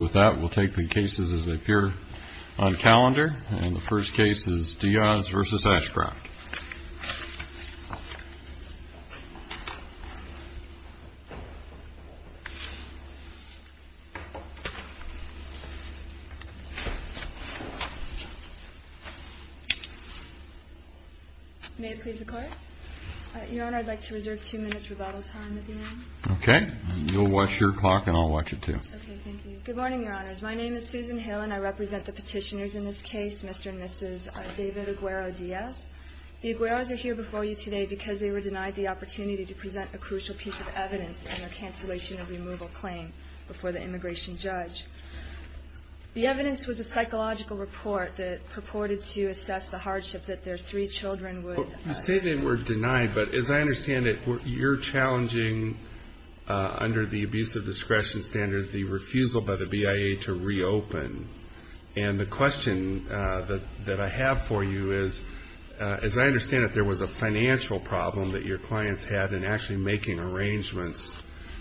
With that, we'll take the cases as they appear on calendar. And the first case is DIAZ v. ASHCROFT. May it please the Court? Your Honor, I'd like to reserve two minutes rebuttal time at the end. Okay. You'll watch your clock and I'll watch it too. Okay. Thank you. Good morning, Your Honors. My name is Susan Hill and I represent the petitioners in this case, Mr. and Mrs. David Aguero-Diaz. The Agueros are here before you today because they were denied the opportunity to present a crucial piece of evidence in their cancellation of removal claim before the immigration judge. The evidence was a psychological report that purported to assess the hardship that their three children would... You say they were denied, but as I understand it, you're challenging, under the abuse of discretion standard, the refusal by the BIA to reopen. And the question that I have for you is, as I understand it, there was a financial problem that your clients had in actually making arrangements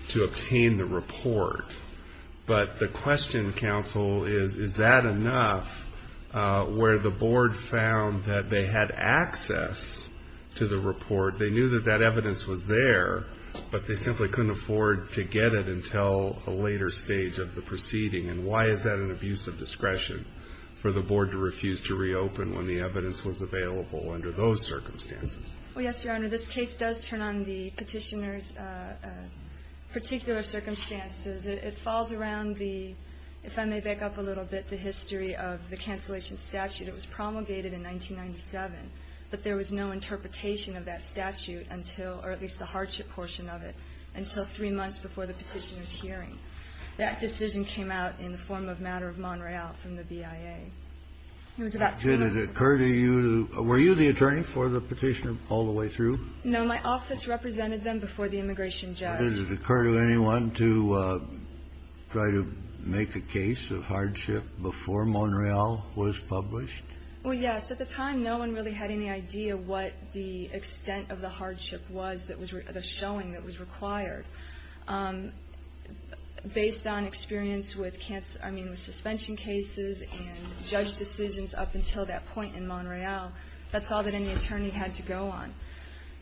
to obtain the report. But the question, counsel, is, is that enough where the board found that they had access to the report? They knew that that evidence was there, but they simply couldn't afford to get it until a later stage of the proceeding. And why is that an abuse of discretion for the board to refuse to reopen when the evidence was available under those circumstances? Well, yes, Your Honor. This case does turn on the petitioners' particular circumstances. It falls around the, if I may back up a little bit, the history of the cancellation statute. It was promulgated in 1997, but there was no interpretation of that statute until, or at least the hardship portion of it, until three months before the petitioner's hearing. That decision came out in the form of matter of Monreal from the BIA. It was about three months. Did it occur to you, were you the attorney for the petitioner all the way through? No. My office represented them before the immigration judge. Did it occur to anyone to try to make a case of hardship before Monreal was published? Well, yes. At the time, no one really had any idea what the extent of the hardship was, the showing that was required. Based on experience with suspension cases and judge decisions up until that point in Monreal, that's all that any attorney had to go on.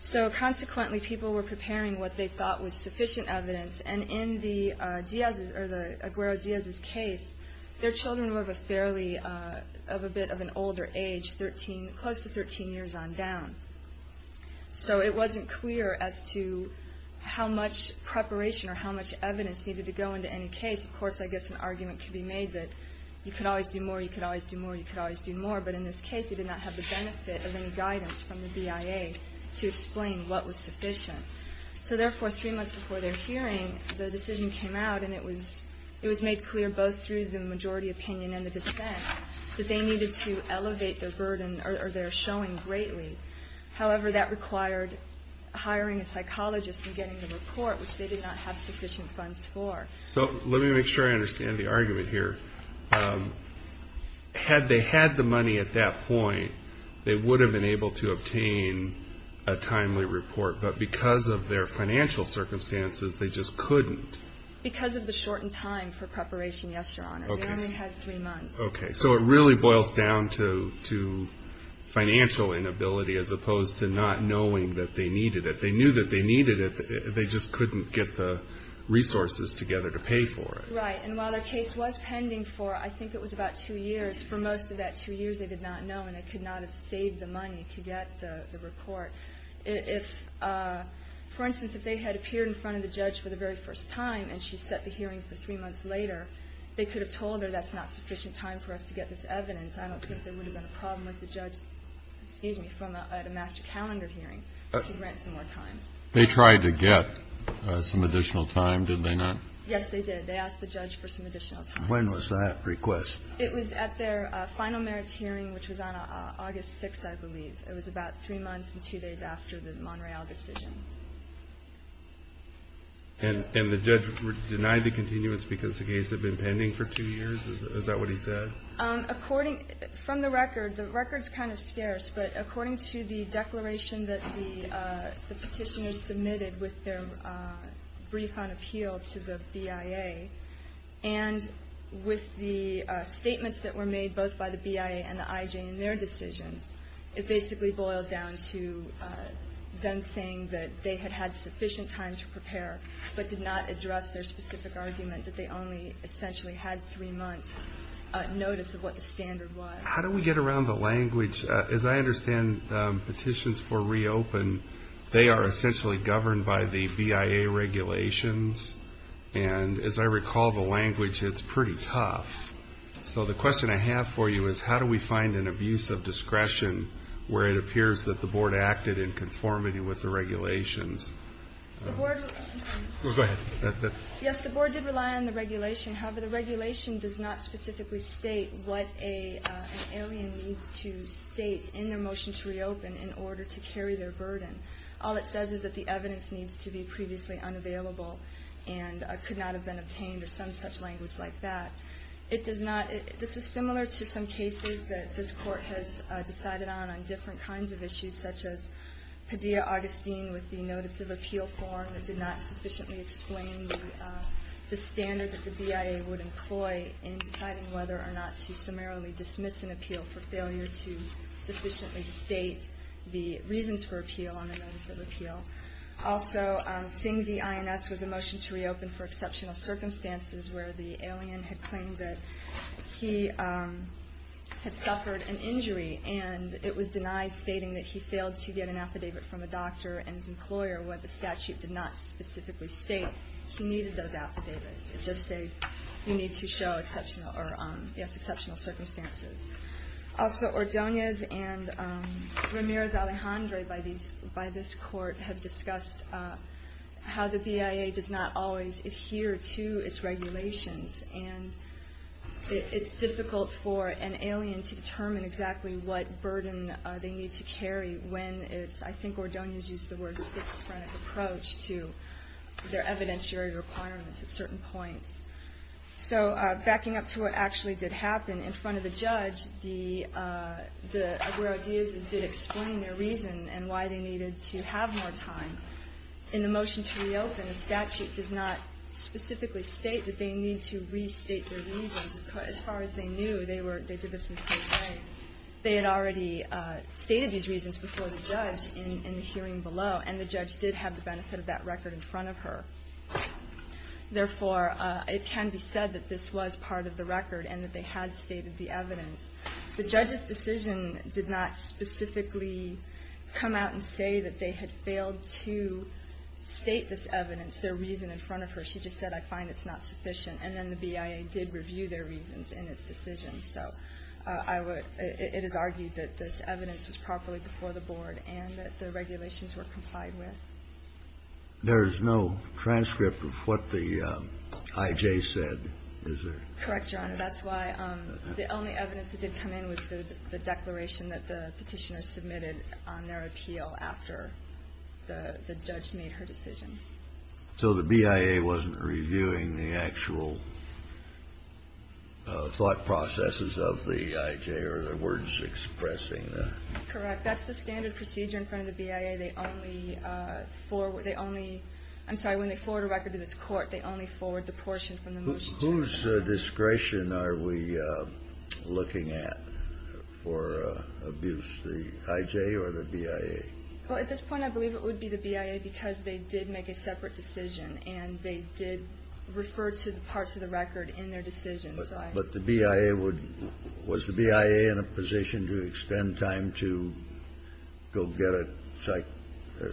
So consequently, people were preparing what they thought was sufficient evidence, and in the Aguero-Diaz's case, their children were of a bit of an older age, close to 13 years on down. So it wasn't clear as to how much preparation or how much evidence needed to go into any case. Of course, I guess an argument could be made that you could always do more, you could always do more, you could always do more, but in this case it did not have the benefit of any guidance from the BIA to explain what was sufficient. So therefore, three months before their hearing, the decision came out and it was made clear both through the majority opinion and the dissent that they needed to elevate their burden or their showing greatly. However, that required hiring a psychologist and getting the report, which they did not have sufficient funds for. So let me make sure I understand the argument here. Had they had the money at that point, they would have been able to obtain a timely report, but because of their financial circumstances, they just couldn't. Because of the shortened time for preparation, yes, Your Honor. They only had three months. Okay. So it really boils down to financial inability as opposed to not knowing that they needed it. They knew that they needed it, they just couldn't get the resources together to pay for it. Right. And while their case was pending for, I think it was about two years, for most of that two years they did not know and they could not have saved the money to get the report. For instance, if they had appeared in front of the judge for the very first time and she set the hearing for three months later, they could have told her that's not sufficient time for us to get this evidence. I don't think there would have been a problem with the judge, excuse me, at a master calendar hearing to grant some more time. They tried to get some additional time, did they not? Yes, they did. They asked the judge for some additional time. When was that request? It was at their final merits hearing, which was on August 6th, I believe. It was about three months and two days after the Montreal decision. And the judge denied the continuance because the case had been pending for two years? Is that what he said? From the record, the record's kind of scarce, but according to the declaration that the petitioners submitted with their brief on appeal to the BIA, and with the statements that were made both by the BIA and the IJ in their decisions, it basically boiled down to them saying that they had had sufficient time to prepare but did not address their specific argument that they only essentially had three months' notice of what the standard was. How do we get around the language? As I understand, petitions for reopen, they are essentially governed by the BIA regulations, and as I recall the language, it's pretty tough. So the question I have for you is how do we find an abuse of discretion where it appears that the board acted in conformity with the regulations? Go ahead. Yes, the board did rely on the regulation. However, the regulation does not specifically state what an alien needs to state in their motion to reopen in order to carry their burden. All it says is that the evidence needs to be previously unavailable and could not have been obtained or some such language like that. This is similar to some cases that this court has decided on, on different kinds of issues such as Padilla-Augustine with the notice of appeal form that did not sufficiently explain the standard that the BIA would employ in deciding whether or not to summarily dismiss an appeal for failure to sufficiently state the reasons for appeal on the notice of appeal. Also, Singh v. INS was a motion to reopen for exceptional circumstances where the alien had claimed that he had suffered an injury and it was denied stating that he failed to get an affidavit from a doctor and his employer where the statute did not specifically state he needed those affidavits. It just said you need to show exceptional circumstances. Also, Ordonez and Ramirez-Alejandre by this court have discussed how the BIA does not always adhere to its regulations and it's difficult for an alien to determine exactly what burden they need to carry when it's, I think Ordonez used the word, six-pronged approach to their evidentiary requirements at certain points. So, backing up to what actually did happen, in front of the judge, the Aguero-Diaz's did explain their reason and why they needed to have more time. In the motion to reopen, the statute does not specifically state that they need to restate their reasons. As far as they knew, they did this in case A. They had already stated these reasons before the judge in the hearing below and the judge did have the benefit of that record in front of her. Therefore, it can be said that this was part of the record and that they had stated the evidence. The judge's decision did not specifically come out and say that they had failed to state this evidence, their reason, in front of her. She just said, I find it's not sufficient. And then the BIA did review their reasons in its decision. So I would – it is argued that this evidence was properly before the board and that the regulations were complied with. There is no transcript of what the I.J. said, is there? Correct, Your Honor. That's why the only evidence that did come in was the declaration that the Petitioner submitted on their appeal after the judge made her decision. So the BIA wasn't reviewing the actual thought processes of the I.J. or the words expressing the – Correct. That's the standard procedure in front of the BIA. They only forward – they only – I'm sorry. When they forward a record to this court, they only forward the portion from the motion. Whose discretion are we looking at for abuse? The I.J. or the BIA? Well, at this point, I believe it would be the BIA because they did make a separate decision and they did refer to the parts of the record in their decision. But the BIA would – was the BIA in a position to expend time to go get a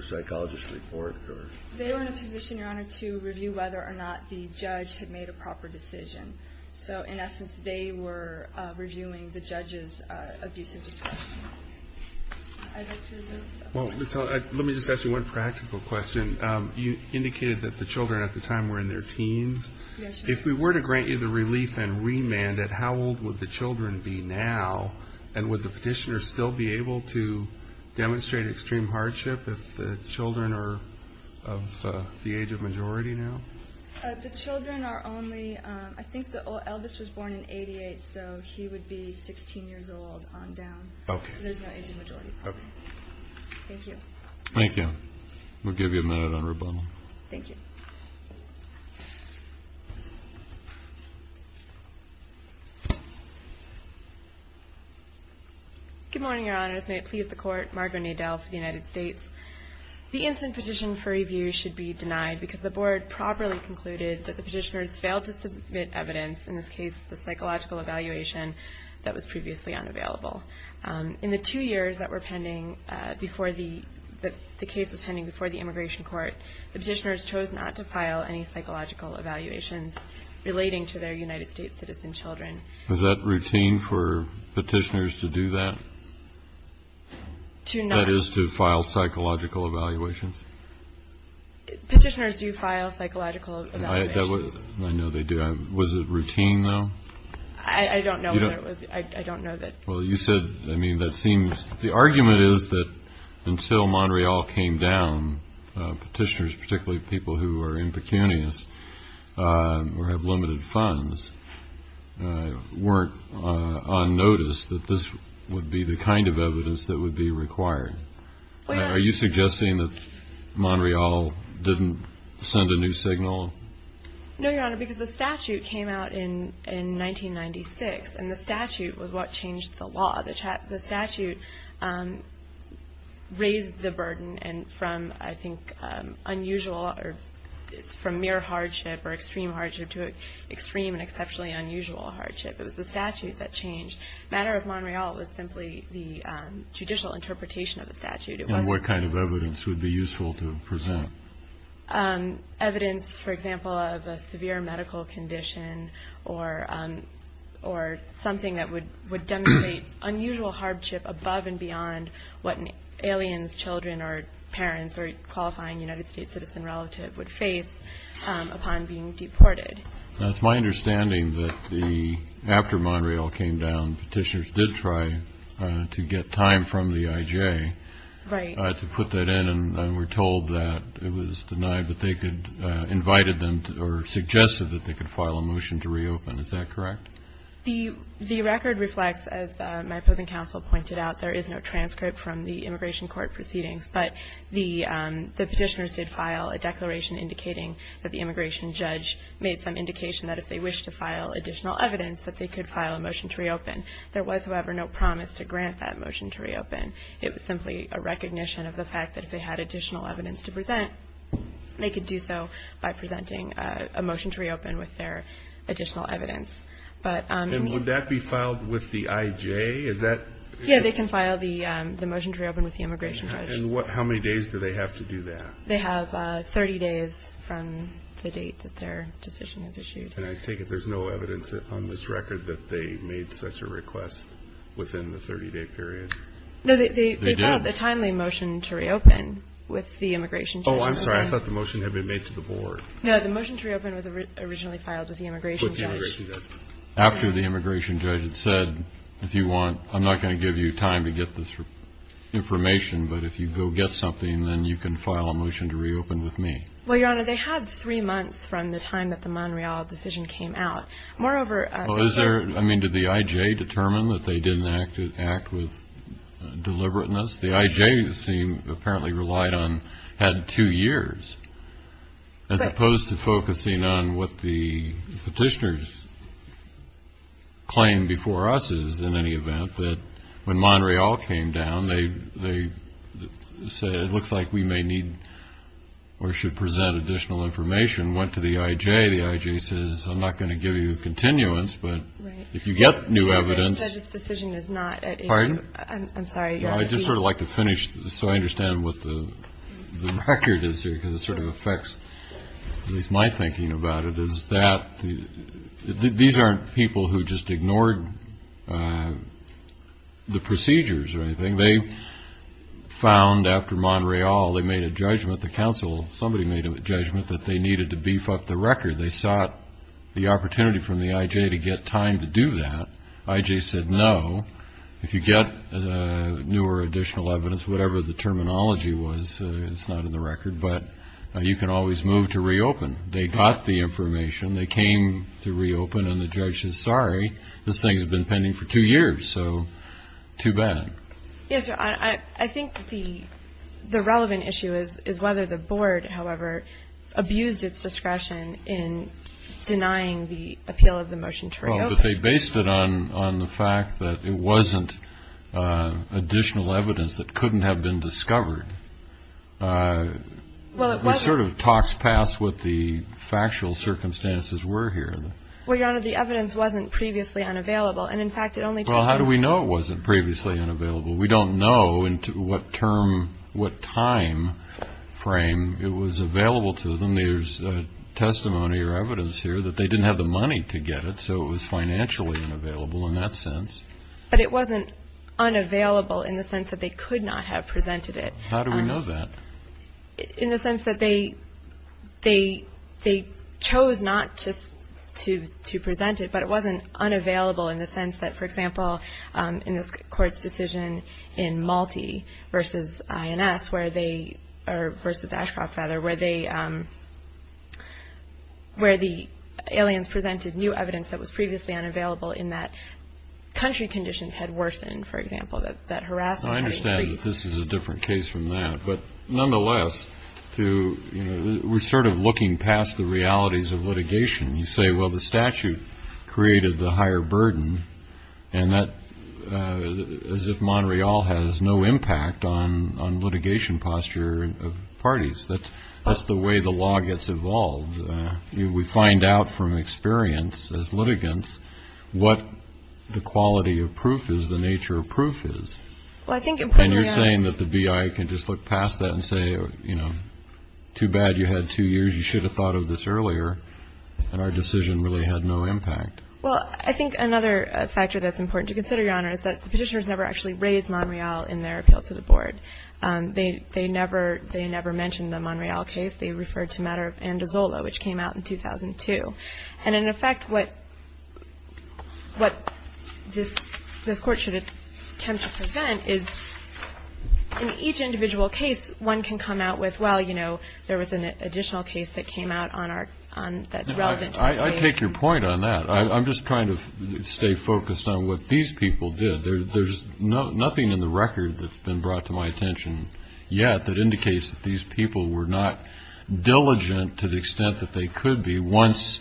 psychologist's report? They were in a position, Your Honor, to review whether or not the judge had made a proper decision. So in essence, they were reviewing the judge's abusive discretion. I think there's a – Well, let me just ask you one practical question. Yes, Your Honor. If we were to grant you the relief and remand it, how old would the children be now? And would the petitioner still be able to demonstrate extreme hardship if the children are of the age of majority now? The children are only – I think Elvis was born in 88, so he would be 16 years old on down. So there's no age of majority. Thank you. Thank you. We'll give you a minute on rebuttal. Thank you. Good morning, Your Honors. May it please the Court. Margo Nadel for the United States. The instant petition for review should be denied because the Board properly concluded that the petitioners failed to submit evidence, in this case, the psychological evaluation that was previously unavailable. In the two years that were pending before the – the case was pending before the Immigration Court, the petitioners chose not to file any psychological evaluations relating to their United States citizen children. Was that routine for petitioners to do that? To not – That is, to file psychological evaluations? Petitioners do file psychological evaluations. I know they do. Was it routine, though? I don't know whether it was. I don't know that – Well, you said – I mean, that seems – the argument is that until Montreal came down, petitioners, particularly people who are impecunious or have limited funds, weren't on notice that this would be the kind of evidence that would be required. Are you suggesting that Montreal didn't send a new signal? No, Your Honor, because the statute came out in 1996, and the statute was what changed the law. The statute raised the burden from, I think, unusual or from mere hardship or extreme hardship to an extreme and exceptionally unusual hardship. It was the statute that changed. The matter of Montreal was simply the judicial interpretation of the statute. And what kind of evidence would be useful to present? Evidence, for example, of a severe medical condition or something that would demonstrate unusual hardship above and beyond what aliens, children, or parents or qualifying United States citizen relative would face upon being deported. It's my understanding that after Montreal came down, petitioners did try to get time from the I.J. Right. To put that in, and we're told that it was denied. But they invited them or suggested that they could file a motion to reopen. Is that correct? The record reflects, as my opposing counsel pointed out, there is no transcript from the immigration court proceedings. But the petitioners did file a declaration indicating that the immigration judge made some indication that if they wished to file additional evidence, that they could file a motion to reopen. There was, however, no promise to grant that motion to reopen. It was simply a recognition of the fact that if they had additional evidence to present, they could do so by presenting a motion to reopen with their additional evidence. And would that be filed with the I.J.? Yeah, they can file the motion to reopen with the immigration judge. And how many days do they have to do that? They have 30 days from the date that their decision is issued. And I take it there's no evidence on this record that they made such a request within the 30-day period? No, they filed a timely motion to reopen with the immigration judge. Oh, I'm sorry. I thought the motion had been made to the board. No, the motion to reopen was originally filed with the immigration judge. After the immigration judge had said, if you want, I'm not going to give you time to get this information, but if you go get something, then you can file a motion to reopen with me. Well, Your Honor, they had three months from the time that the Monreal decision came out. I mean, did the I.J. determine that they didn't act with deliberateness? The I.J., it seemed, apparently relied on, had two years, as opposed to focusing on what the petitioners claimed before us is in any event, that when Monreal came down, they said, it looks like we may need or should present additional information, went to the I.J. And today the I.J. says, I'm not going to give you continuance, but if you get new evidence. The judge's decision is not. Pardon? I'm sorry. I'd just sort of like to finish, so I understand what the record is here, because it sort of affects at least my thinking about it, is that these aren't people who just ignored the procedures or anything. They found after Monreal, they made a judgment, the counsel, somebody made a judgment that they needed to beef up the record. They sought the opportunity from the I.J. to get time to do that. I.J. said, no, if you get new or additional evidence, whatever the terminology was, it's not in the record, but you can always move to reopen. They got the information. They came to reopen, and the judge says, sorry, this thing's been pending for two years, so too bad. Yes, sir. I think the relevant issue is whether the board, however, abused its discretion in denying the appeal of the motion to reopen. Well, but they based it on the fact that it wasn't additional evidence that couldn't have been discovered. Well, it wasn't. It sort of talks past what the factual circumstances were here. Well, Your Honor, the evidence wasn't previously unavailable, and, in fact, it only took. Well, how do we know it wasn't previously unavailable? We don't know what term, what time frame it was available to them. There's testimony or evidence here that they didn't have the money to get it, so it was financially unavailable in that sense. But it wasn't unavailable in the sense that they could not have presented it. How do we know that? In the sense that they chose not just to present it, but it wasn't unavailable in the sense that, for example, in this Court's decision in Malti versus INS where they or versus Ashcroft, rather, where the aliens presented new evidence that was previously unavailable in that country conditions had worsened, for example, that harassment had increased. I understand that this is a different case from that. But nonetheless, we're sort of looking past the realities of litigation. You say, well, the statute created the higher burden, and that as if Montreal has no impact on litigation posture of parties. That's the way the law gets evolved. We find out from experience as litigants what the quality of proof is, the nature of proof is. And you're saying that the BIA can just look past that and say, you know, too bad you had two years. You should have thought of this earlier, and our decision really had no impact. Well, I think another factor that's important to consider, Your Honor, is that the Petitioners never actually raised Montreal in their appeal to the Board. They never mentioned the Montreal case. They referred to Matter of Andazola, which came out in 2002. And in effect, what this Court should attempt to present is in each individual case, one can come out with, well, you know, there was an additional case that came out that's relevant to the case. I take your point on that. I'm just trying to stay focused on what these people did. There's nothing in the record that's been brought to my attention yet that indicates that these people were not diligent to the extent that they could be once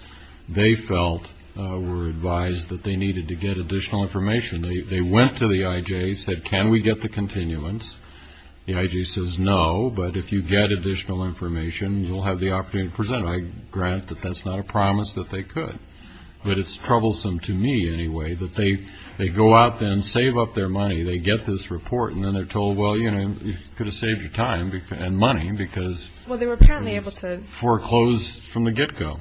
they felt were advised that they needed to get additional information. They went to the IJ, said, can we get the continuance? The IJ says, no, but if you get additional information, you'll have the opportunity to present it. I grant that that's not a promise that they could. But it's troublesome to me, anyway, that they go out there and save up their money. They get this report, and then they're told, well, you know, you could have saved your time and money because Well, they were apparently able to Foreclosed from the get-go.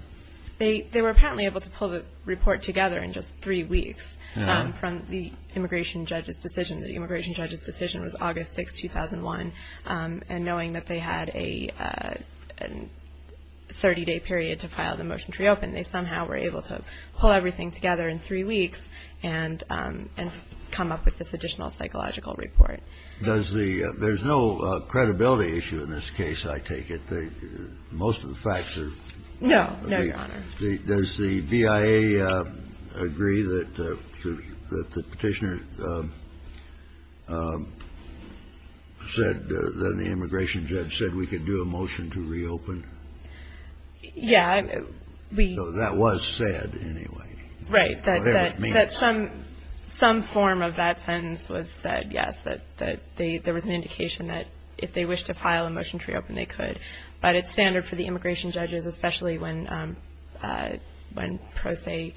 They were apparently able to pull the report together in just three weeks from the immigration judge's decision. The immigration judge's decision was August 6, 2001. And knowing that they had a 30-day period to file the motion to reopen, they somehow were able to pull everything together in three weeks and come up with this additional psychological report. There's no credibility issue in this case, I take it. No, no, Your Honor. Does the BIA agree that the Petitioner said that the immigration judge said we could do a motion to reopen? Yeah, we So that was said, anyway. Right. Whatever it means. That some form of that sentence was said, yes, that there was an indication that if they wished to file a motion to reopen, they could. But it's standard for the immigration judges, especially when pro se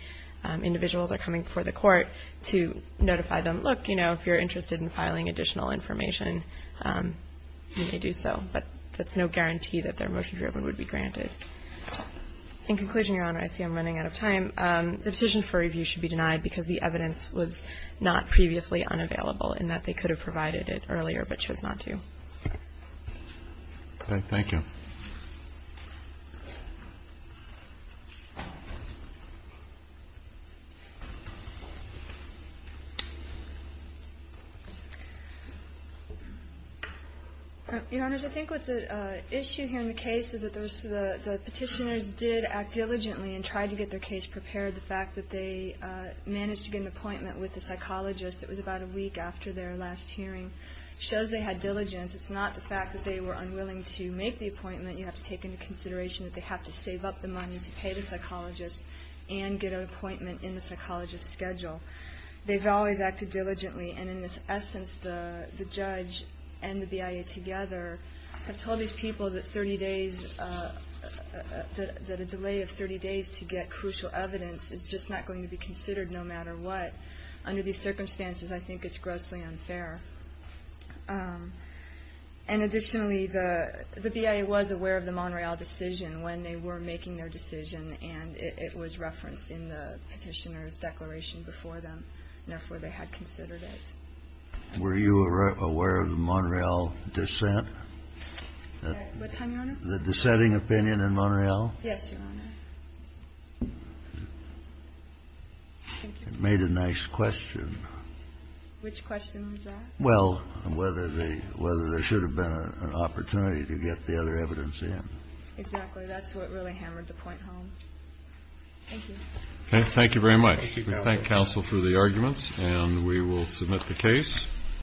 individuals are coming before the court to notify them, look, you know, if you're interested in filing additional information, you may do so. But that's no guarantee that their motion to reopen would be granted. In conclusion, Your Honor, I see I'm running out of time. The petition for review should be denied because the evidence was not previously unavailable in that they could have provided it earlier but chose not to. Thank you. Your Honors, I think what's at issue here in the case is that the Petitioners did act diligently and tried to get their case prepared. The fact that they managed to get an appointment with a psychologist, it was about a week after their last hearing, shows they had diligence. It's not the fact that they were unwilling to make the appointment. You have to take into consideration that they have to save up the money to pay the psychologist and get an appointment in the psychologist's schedule. They've always acted diligently. And in this essence, the judge and the BIA together have told these people that 30 days, that a delay of 30 days to get crucial evidence is just not going to be considered no matter what. Under these circumstances, I think it's grossly unfair. And additionally, the BIA was aware of the Montreal decision when they were making their decision, and it was referenced in the Petitioners' declaration before them. Therefore, they had considered it. Were you aware of the Montreal dissent? What time, Your Honor? The dissenting opinion in Montreal? Yes, Your Honor. It made a nice question. Which question was that? Well, whether there should have been an opportunity to get the other evidence in. Exactly. That's what really hammered the point home. Thank you. Okay. Thank you very much. We thank counsel for the arguments, and we will submit the case.